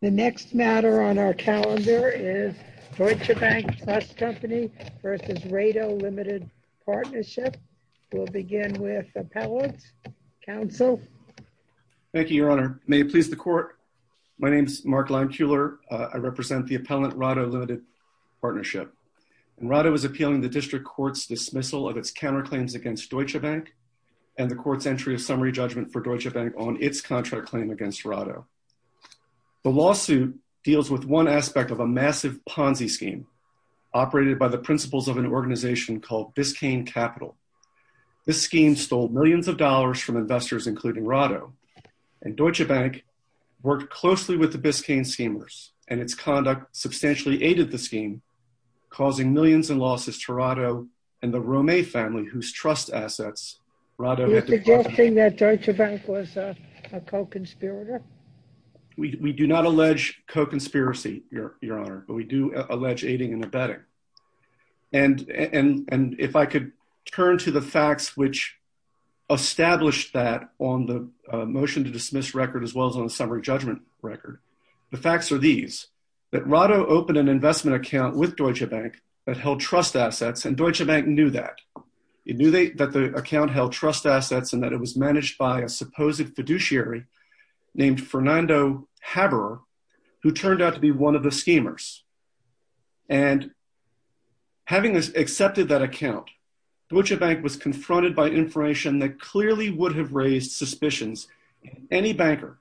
The next matter on our calendar is Deutsche Bank Trust Company v. Rado Limited Partnership. We'll begin with Appellant. Counsel. Thank you, Your Honor. May it please the Court. My name is Mark Leimkuhler. I represent the Appellant Rado Limited Partnership. Rado is appealing the District Court's dismissal of its counterclaims against Deutsche Bank and the Court's entry of summary judgment for Deutsche Bank on its contract claim against Rado. The lawsuit deals with one aspect of a massive Ponzi scheme operated by the principles of an organization called Biscayne Capital. This scheme stole millions of dollars from investors, including Rado, and Deutsche Bank worked closely with the Biscayne schemers, and its conduct substantially aided the scheme, causing millions in losses to Rado and the Romet family whose trust assets Rado had developed. You're suggesting that Deutsche Bank was a co-conspirator? We do not allege co-conspiracy, Your Honor, but we do allege aiding and abetting. And if I could turn to the facts which established that on the motion to dismiss record as well as on the summary judgment record, the facts are these, that Rado opened an investment account with Deutsche Bank that held trust assets, and Deutsche Bank knew that. It knew that the account held trust assets and that it was managed by a supposed fiduciary named Fernando Haberer, who turned out to be one of the schemers. And having accepted that account, Deutsche Bank was confronted by information that clearly would have raised suspicions in any banker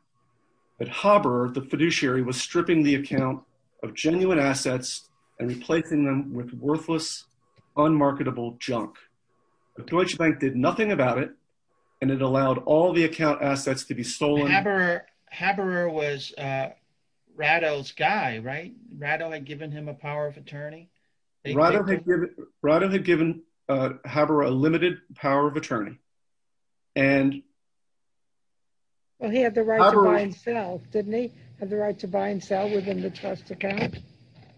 that Haberer, the fiduciary, was stripping the account of genuine assets and replacing them with worthless, unmarketable junk. But Deutsche Bank did nothing about it, and it allowed all the account assets to be stolen. Haberer was Rado's guy, right? Rado had given him a power of attorney? Rado had given Haberer a limited power of attorney. Well, he had the right to buy and sell, didn't he? Had the right to buy and sell within the trust account?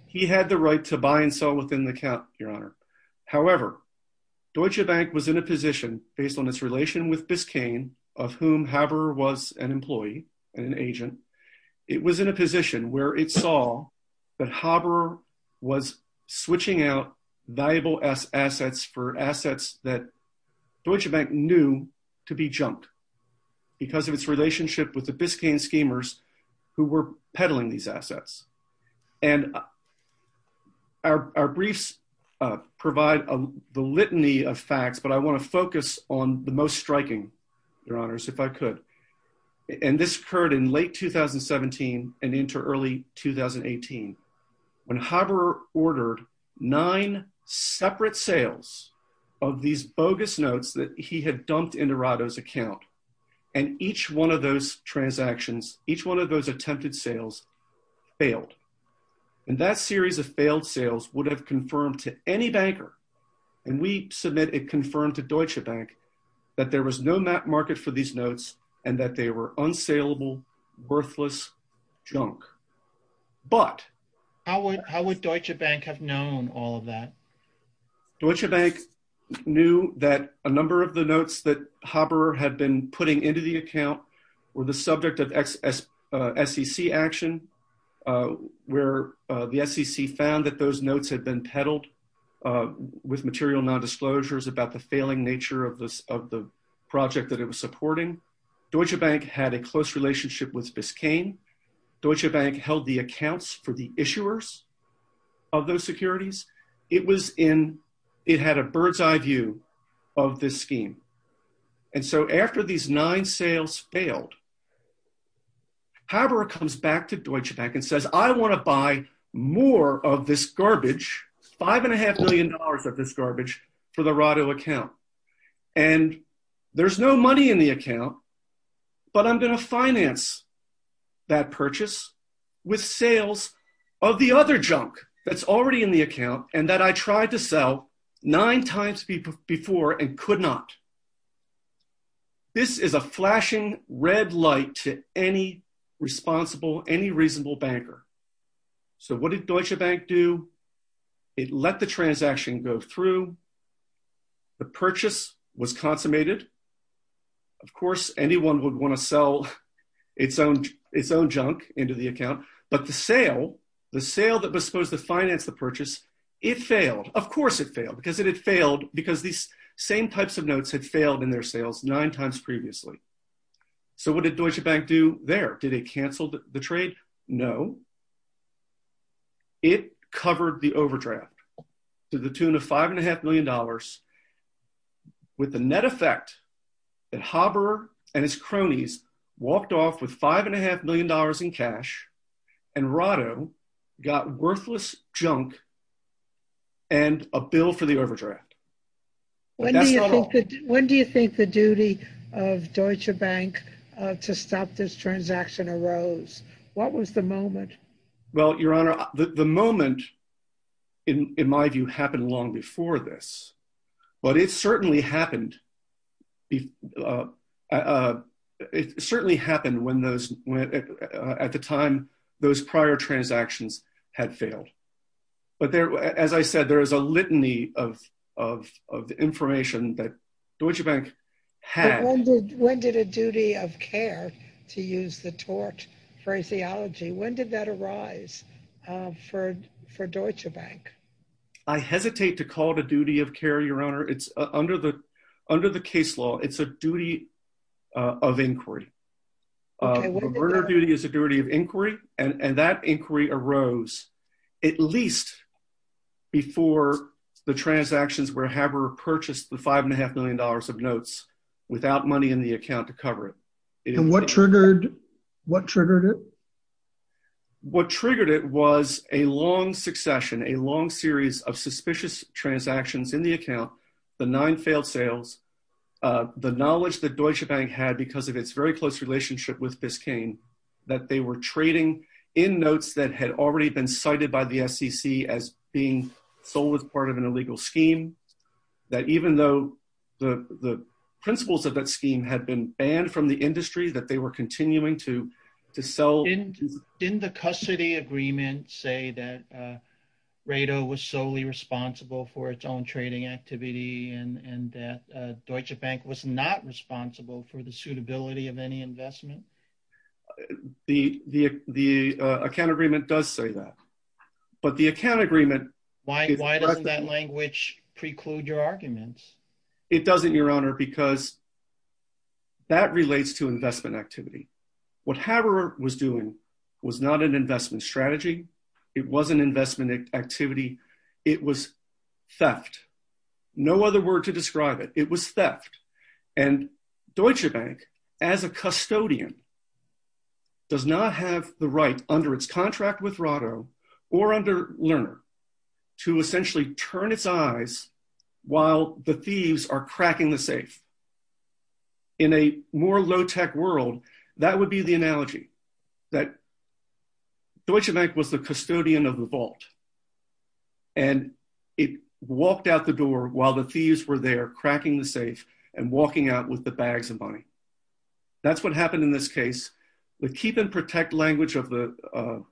He had the right to buy and sell within the account, Your Honor. However, Deutsche Bank was in a position, based on its relation with Biscayne, of whom Haberer was an employee and an agent, it was in a position where it saw that Haberer was switching out valuable assets for new to be junked because of its relationship with the Biscayne schemers who were peddling these assets. And our briefs provide the litany of facts, but I want to focus on the most striking, Your Honors, if I could. And this occurred in late 2017 and into early 2018, when Haberer ordered nine separate sales of these bogus notes that he had dumped into Rado's account. And each one of those transactions, each one of those attempted sales, failed. And that series of failed sales would have confirmed to any banker, and we submit it confirmed to Deutsche Bank, that there was no market for these notes and that they were unsellable, worthless junk. But... How would Deutsche Bank have known all of that? Deutsche Bank knew that a number of the notes that Haberer had been putting into the account were the subject of SEC action, where the SEC found that those notes had been peddled with material non-disclosures about the failing nature of the project that it was supporting. Deutsche Bank had a close relationship with Biscayne. Deutsche Bank held the accounts for the issuers of those securities. It was in... It had a bird's eye view of this scheme. And so, after these nine sales failed, Haberer comes back to Deutsche Bank and says, I want to buy more of this garbage, five and a half million dollars of this garbage, for the Rado account. And there's no money in the Rado account. I want to finance that purchase with sales of the other junk that's already in the account and that I tried to sell nine times before and could not. This is a flashing red light to any responsible, any reasonable banker. So, what did Deutsche Bank do? It let the transaction go through. The purchase was consummated. Of course, anyone would want to sell its own, its own junk into the account. But the sale, the sale that was supposed to finance the purchase, it failed. Of course, it failed because it had failed because these same types of notes had failed in their sales nine times previously. So, what did Deutsche Bank do there? Did it cancel the trade? No. It covered the overdraft to the tune of five and a half million dollars with the net effect that Haberer and his cronies walked off with five and a half million dollars in cash and Rado got worthless junk and a bill for the overdraft. When do you think the duty of Deutsche Bank to stop this transaction arose? What was the moment? Well, Your Honor, the moment, in my view, happened long before this. But it certainly happened when those, at the time, those prior transactions had failed. But there, as I said, there is a litany of information that Deutsche Bank had. When did a duty of care, to use the tort phraseology, when did that arise for Deutsche Bank? I hesitate to call it a duty of care, Your Honor. Under the case law, it's a duty of inquiry. A murder duty is a duty of inquiry, and that inquiry arose at least before the transactions where Haberer purchased the five and a half million dollars of notes without money in the account to cover it. And what triggered, what triggered it? What triggered it was a long succession, a long series of suspicious transactions in the account, the nine failed sales, the knowledge that Deutsche Bank had because of its very close relationship with Biscayne, that they were trading in notes that had already been cited by the SEC as being sold as part of an illegal scheme, that even though the principles of that scheme had been banned from the industry, that they were continuing to sell. Didn't the custody agreement say that Rado was solely responsible for its own trading activity and that Deutsche Bank was not responsible for the suitability of any investment? The account agreement does say that. But the account agreement... Why doesn't that language preclude your arguments? It doesn't, Your Honor, because that relates to investment activity. What Haberer was doing was not an investment strategy. It wasn't investment activity. It was theft. No other word to describe it. It was theft. And Deutsche Bank, as a custodian, does not have the right under its contract with Rado or under Lerner to essentially turn its eyes while the thieves are cracking the safe. In a more low-tech world, that would be the analogy that Deutsche Bank was the custodian of the vault. And it walked out the door while the thieves were there cracking the safe and walking out with the bags of money. That's what happened in this case. The keep and protect language of the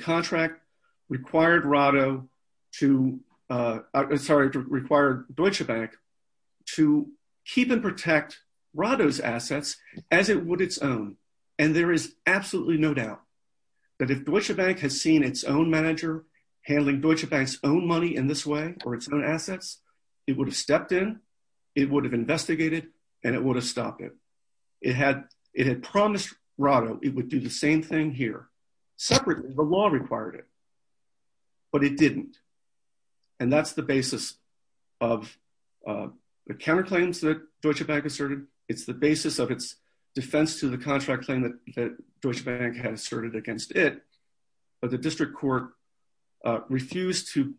contract required Rado to... Sorry, required Deutsche Bank to keep and protect Rado's assets as it would its own. And there is absolutely no doubt that if Deutsche Bank has seen its own manager handling Deutsche Bank's own money in this way or its own assets, it would have stepped in, it would have investigated, and it would have stopped it. It had promised Rado it would do the same thing here separately. The law required it, but it didn't. And that's the basis of the counterclaims that Deutsche Bank asserted. It's the basis of its defense to the contract claim that Deutsche Bank had asserted against it. But the district court refused to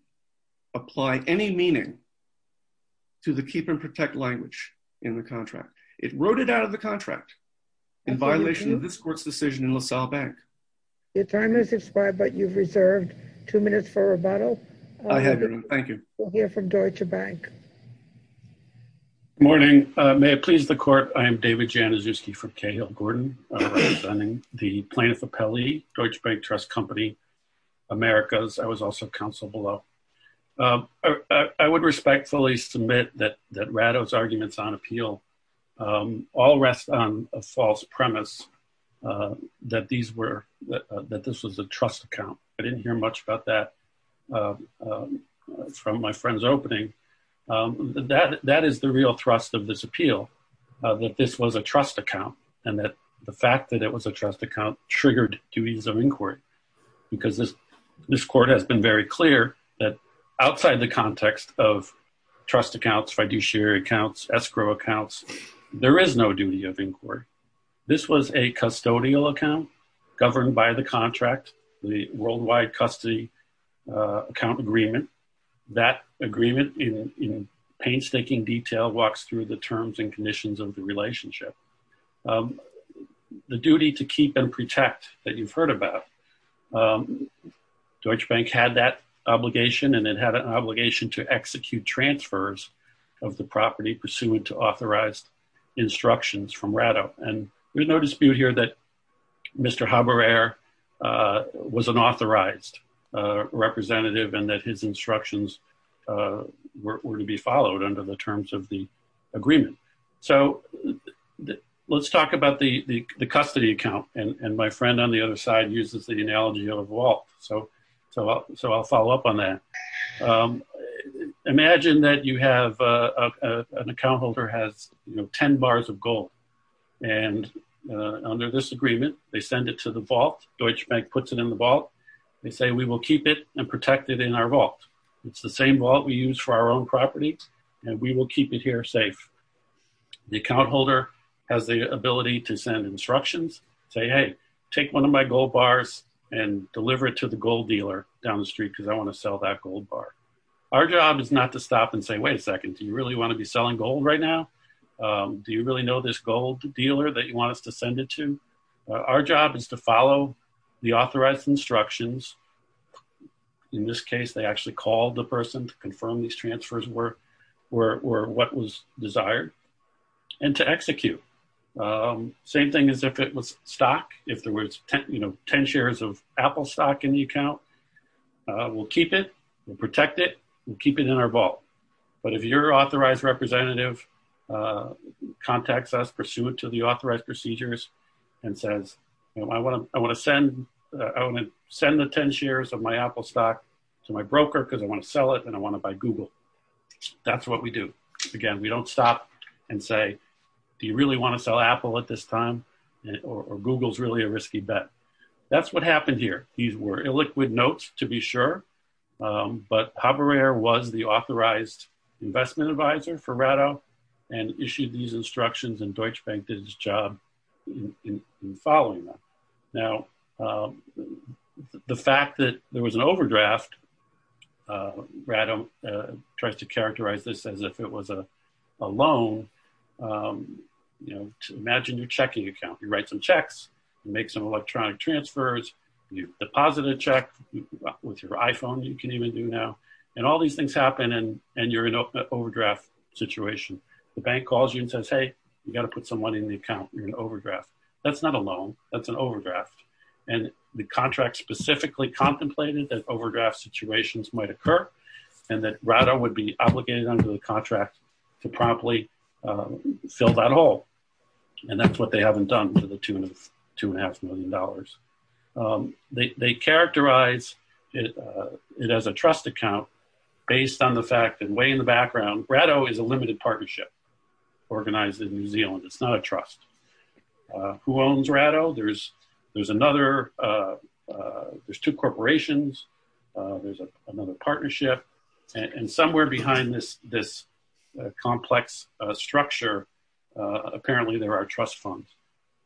apply any meaning to the keep and protect language in the contract in violation of this court's decision in LaSalle Bank. Your time has expired, but you've reserved two minutes for rebuttal. I have your room. Thank you. We'll hear from Deutsche Bank. Good morning. May it please the court. I am David Januszewski from Cahill Gordon, the plaintiff appellee, Deutsche Bank Trust Company, Americas. I was also counsel below. I would respectfully submit that Rado's arguments on appeal all rest on a false premise that this was a trust account. I didn't hear much about that from my friend's opening. That is the real thrust of this appeal, that this was a trust account and that the fact that it was a trust account triggered duties of inquiry. Because this court has been very clear that outside the context of trust accounts, fiduciary accounts, escrow accounts, there is no duty of inquiry. This was a custodial account governed by the contract, the Worldwide Custody Account Agreement. That agreement in painstaking detail walks through the terms and conditions of the relationship. The duty to keep and protect that you've heard about, Deutsche Bank had that obligation and it had an obligation to execute transfers of the property pursuant to authorized instructions from Rado. There's no dispute here that Mr. Haberer was an authorized representative and that his instructions were to be followed under the terms of the agreement. So let's talk about the custody account and my friend on the other side uses the analogy of a vault. So I'll follow up on that. Imagine that you have an account holder has 10 bars of gold. And under this agreement, they send it to the vault, Deutsche Bank puts it in the vault. They say, we will keep it and protect it in our vault. It's the same vault we use for our own property and we will keep it here safe. The account holder has the ability to send instructions, say, hey, take one of my gold bars and deliver it to the gold dealer down the street because I want to sell that gold bar. Our job is not to stop and say, wait a second, do you really want to be selling gold right now? Do you really know this gold dealer that you want us to send it to? Our job is to follow the authorized instructions. In this case, they actually called the person to confirm these transfers were what was desired and to execute. Same thing as if it was stock, if there were 10 shares of Apple stock in the account, we'll keep it, we'll protect it, we'll keep it in our vault. But if your authorized representative contacts us pursuant to the I want to send the 10 shares of my Apple stock to my broker because I want to sell it and I want to buy Google. That's what we do. Again, we don't stop and say, do you really want to sell Apple at this time? Or Google's really a risky bet. That's what happened here. These were illiquid notes, to be sure. But Haberer was the authorized investment advisor for Rado and issued these notes. The fact that there was an overdraft, Rado tries to characterize this as if it was a loan. Imagine your checking account, you write some checks, make some electronic transfers, you deposit a check with your iPhone, you can even do now. All these things happen and you're in an overdraft situation. The bank calls you and says, hey, you got to put some money in the and the contract specifically contemplated that overdraft situations might occur. And that Rado would be obligated under the contract to promptly fill that hole. And that's what they haven't done to the tune of two and a half million dollars. They characterize it as a trust account based on the fact that way in the background, Rado is a limited partnership organized in New Zealand. It's not a trust. Who owns Rado? There's two corporations. There's another partnership. And somewhere behind this complex structure, apparently there are trust funds.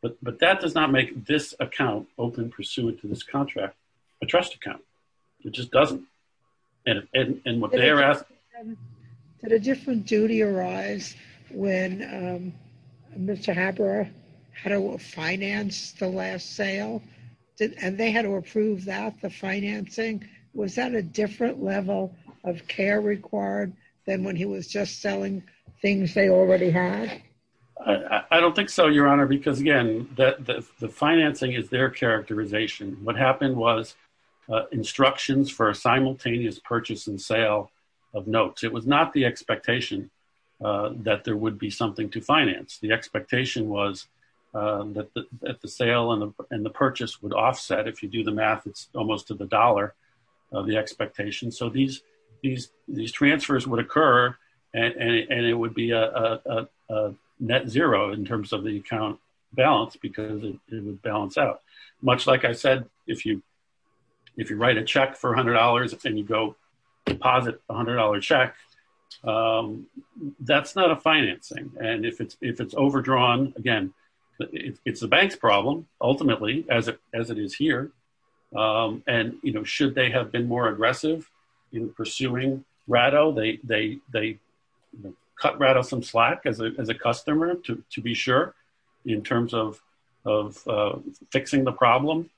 But that does not make this account open pursuant to this contract, a trust account. It just doesn't. And what they're asking- Did a different duty arise when Mr. Haberer had to finance the last sale? And they had to approve that, the financing? Was that a different level of care required than when he was just selling things they already had? I don't think so, Your Honor, because again, the financing is their characterization. What happened was instructions for a simultaneous purchase and sale of notes. It was not the expectation that there would be something to finance. The expectation was that the sale and the purchase would offset. If you do the math, it's almost to the dollar of the expectation. So these transfers would occur and it would be a net zero in terms of the account balance because it would balance out. Much like I said, if you write a check for $100 and you go deposit a $100 check, that's not a financing. And if it's overdrawn, again, it's the bank's problem, ultimately, as it is here. And should they have been more aggressive in pursuing Rado? They cut Rado some slack as a customer, to be sure, in terms of fixing the problem.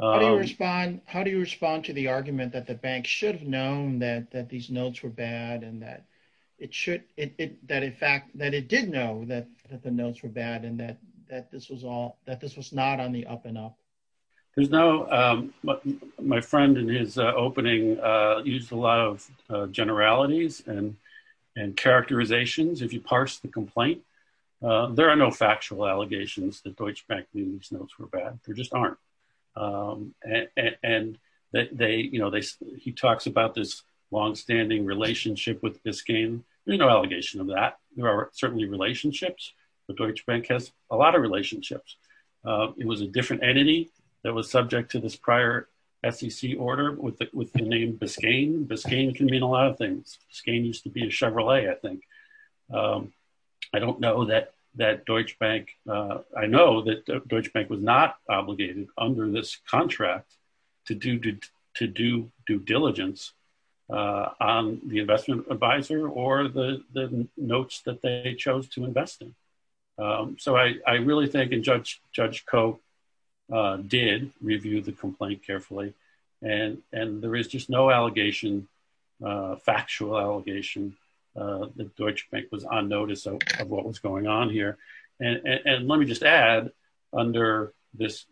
How do you respond to the argument that the bank should have known that these notes were bad and that it did know that the notes were bad and that this was not on the up and up? There's no... My friend in his opening used a lot of generalities and characterizations. If you parse the complaint, there are no factual allegations that Deutsche Bank knew these notes were bad. There just aren't. He talks about this longstanding relationship with Biscayne. There's no allegation of that. There are certainly relationships, but Deutsche Bank has a lot of that was subject to this prior SEC order with the name Biscayne. Biscayne can mean a lot of things. Biscayne used to be a Chevrolet, I think. I don't know that Deutsche Bank... I know that Deutsche Bank was not obligated under this contract to do due diligence on the investment advisor or the did review the complaint carefully. There is just no allegation, factual allegation that Deutsche Bank was on notice of what was going on here. Let me just add under this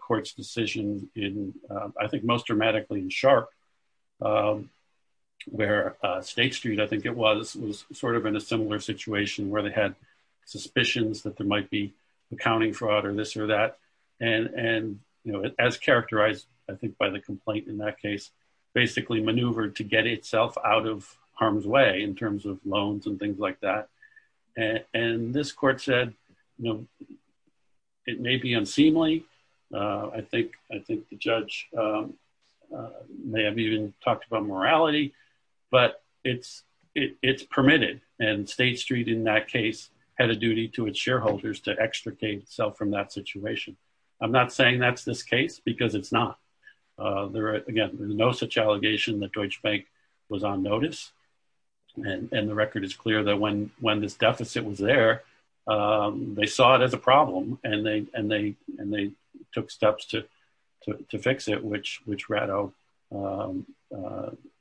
court's decision in, I think, most dramatically in Sharpe, where State Street, I think it was, was in a similar situation where they had suspicions that there might be as characterized, I think, by the complaint in that case, basically maneuvered to get itself out of harm's way in terms of loans and things like that. This court said, it may be unseemly. I think the judge may have even talked about morality, but it's permitted. State Street, in that case, had a duty to its shareholders to extricate itself from that situation. I'm not saying that's this case because it's not. Again, there's no such allegation that Deutsche Bank was on notice. The record is clear that when this deficit was there, they saw it as a problem and they took steps to fix it, which Rado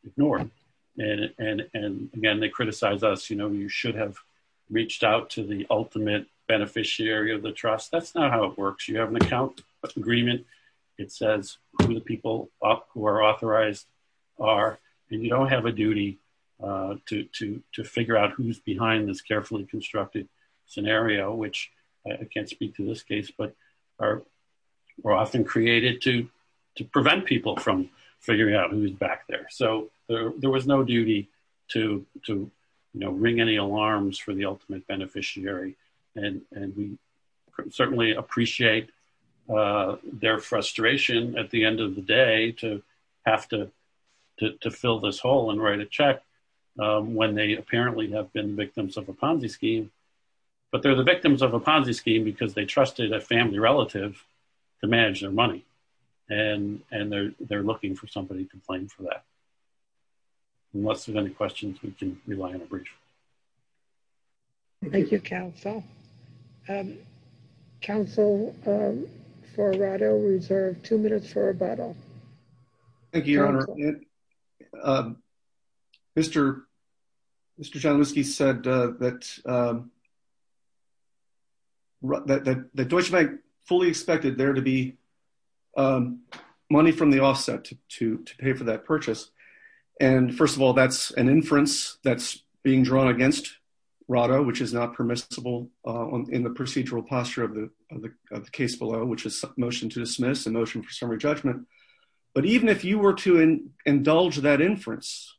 ignored. Again, they criticized us. You should have reached out to the ultimate beneficiary of the trust. That's not how it works. You have an account agreement. It says who the people up who are authorized are, and you don't have a duty to figure out who's behind this carefully constructed scenario, which I can't speak to this case, but are often created to prevent people from figuring out who's back there. There was no duty to ring any alarms for the ultimate beneficiary. We certainly appreciate their frustration at the end of the day to have to fill this hole and write a check when they apparently have been victims of a Ponzi scheme. They're the victims of a Ponzi scheme because they trusted a family relative to manage their money. They're looking for somebody to help them. Unless there are any questions, we can rely on a brief. Thank you, counsel. Counsel for Rado, we reserve two minutes for Rado. Thank you, Your Honor. Mr. John Whiskey said that Deutsche Bank fully expected there to be money from the offset to pay for that purchase. First of all, that's an inference that's being drawn against Rado, which is not permissible in the procedural posture of the case below, which is motion to dismiss and motion for summary judgment. Even if you were to indulge that inference,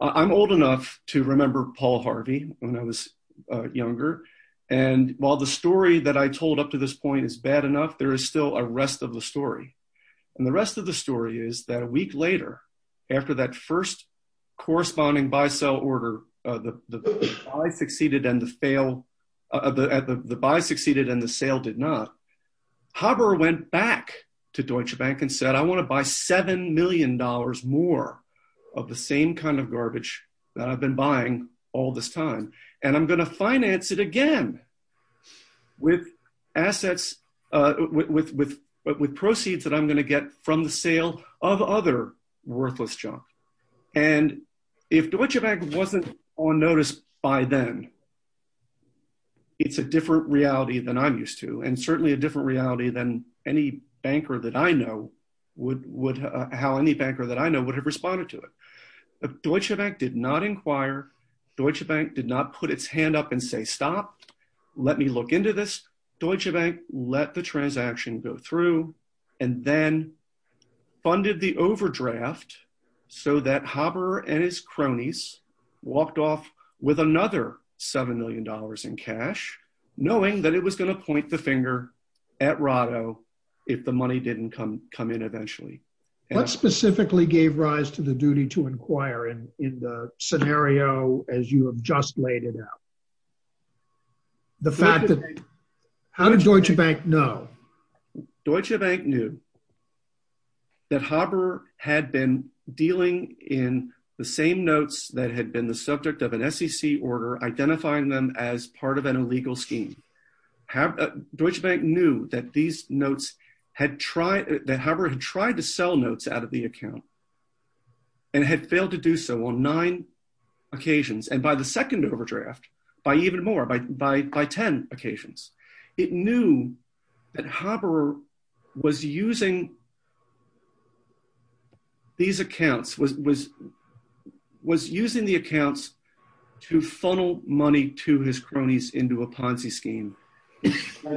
I'm old enough to remember Paul Harvey when I was younger. While the story that I told up to this point is bad enough, there is still a rest of the story. The rest of the story is that a week later, after that first corresponding buy-sell order, the buy succeeded and the sale did not, Haber went back to Deutsche Bank and said, I want to buy $7 million more of the same kind of garbage that I've been buying all this time. I'm going to finance it again with proceeds that I'm going to get from the sale of other worthless junk. If Deutsche Bank wasn't on notice by then, it's a different reality than I'm used to and certainly a different reality than how any banker that I know would have responded to it. Deutsche Bank did not inquire. Deutsche Bank did not put its hand up and say, stop, let me look into this. Deutsche Bank let the transaction go through and then funded the overdraft so that Haber and his cronies walked off with another $7 million in cash, knowing that it was going to point the finger at Rado if the money didn't come in eventually. What specifically gave rise to the duty to inquire in the scenario as you have just laid it out? How did Deutsche Bank know? Deutsche Bank knew that Haber had been dealing in the same notes that had been the subject of an SEC order, identifying them as part of an illegal scheme. Haber, Deutsche Bank knew that these notes had tried, that Haber had tried to sell notes out of the account and had failed to do so on nine occasions and by the second overdraft, by even more, by ten occasions. It knew that Haber was using these accounts, was using the accounts to funnel money to his cronies into a Ponzi scheme. Are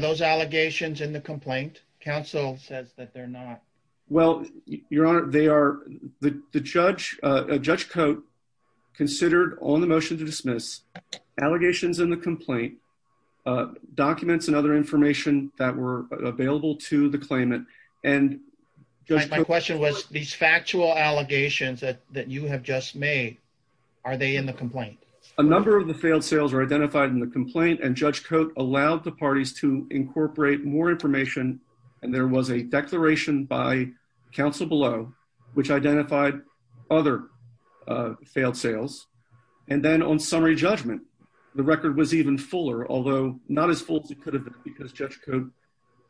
those allegations in the complaint? Counsel says that they're not. Well, Your Honor, they are, the judge, Judge Cote considered on the motion to dismiss allegations in the complaint, documents and other information that were available to the claimant. And my question was, these factual allegations that you have just made, are they in the complaint? A number of the failed sales are identified in the complaint and Judge Cote allowed the parties to incorporate more information. And there was a declaration by counsel below, which identified other failed sales. And then on summary judgment, the record was even fuller, although not as full as it could have been because Judge Cote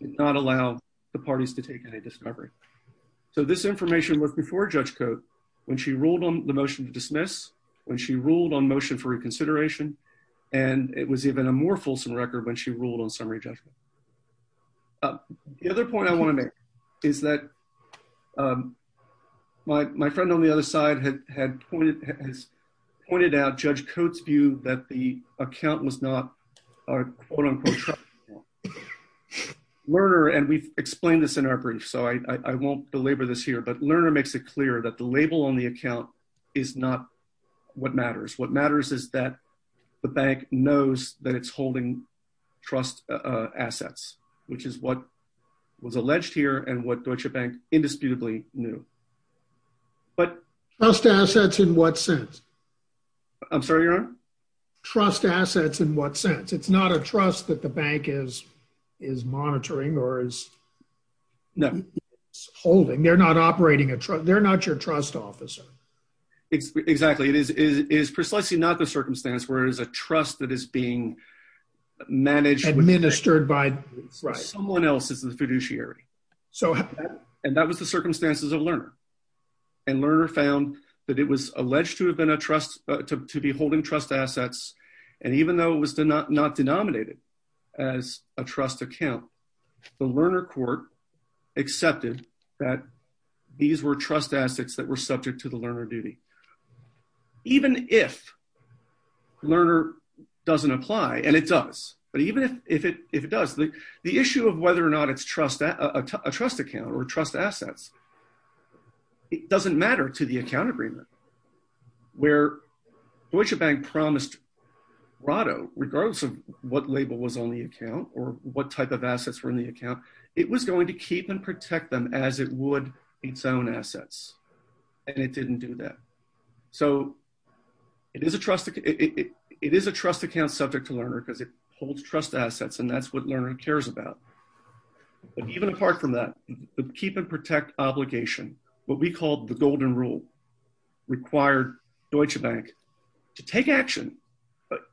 did not allow the parties to take any discovery. So this information was before Judge Cote, when she ruled on the motion to dismiss, when she ruled on motion for reconsideration, and it was even a more fulsome record when she ruled on summary judgment. The other point I want to make is that my friend on the other side had pointed out Judge Cote's view that the account was not Lerner, and we've explained this in our brief, so I won't belabor this here, but Lerner makes it clear that the label on the account is not what matters. What matters is that the bank knows that it's holding trust assets, which is what was alleged here and what Deutsche Bank indisputably knew. But... Trust assets in what sense? I'm sorry, Your Honor? Trust assets in what sense? It's not a trust that the bank is monitoring or is holding. They're not your trust officer. Exactly. It is precisely not the circumstance where it is a trust that is being managed... Administered by... Right. Someone else is the fiduciary. And that was the circumstances of Lerner. And Lerner found that it was alleged to have been a trust, to be holding trust assets, and even though it was not denominated as a trust account, the Lerner court accepted that these were trust assets that were subject to the Lerner duty. Even if Lerner doesn't apply, and it does, but even if it does, the issue of whether or not it's a trust account or trust assets, it doesn't matter to the account agreement, where Deutsche Bank promised Rado, regardless of what label was on the account or what type of assets were in the account, it was going to keep and protect them as it would its own assets. And it didn't do that. So, it is a trust account subject to Lerner because it holds trust assets, and that's what Lerner cares about. But even apart from that, the keep and protect obligation, what we call the golden rule, required Deutsche Bank to take action.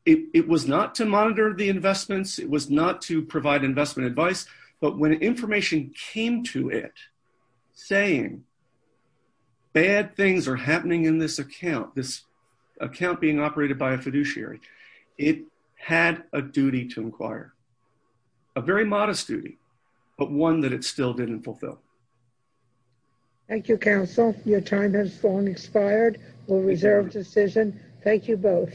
It was not to monitor the information. When information came to it saying bad things are happening in this account, this account being operated by a fiduciary, it had a duty to inquire. A very modest duty, but one that it still didn't fulfill. Thank you, counsel. Your time has long expired. We'll reserve decision. Thank you both.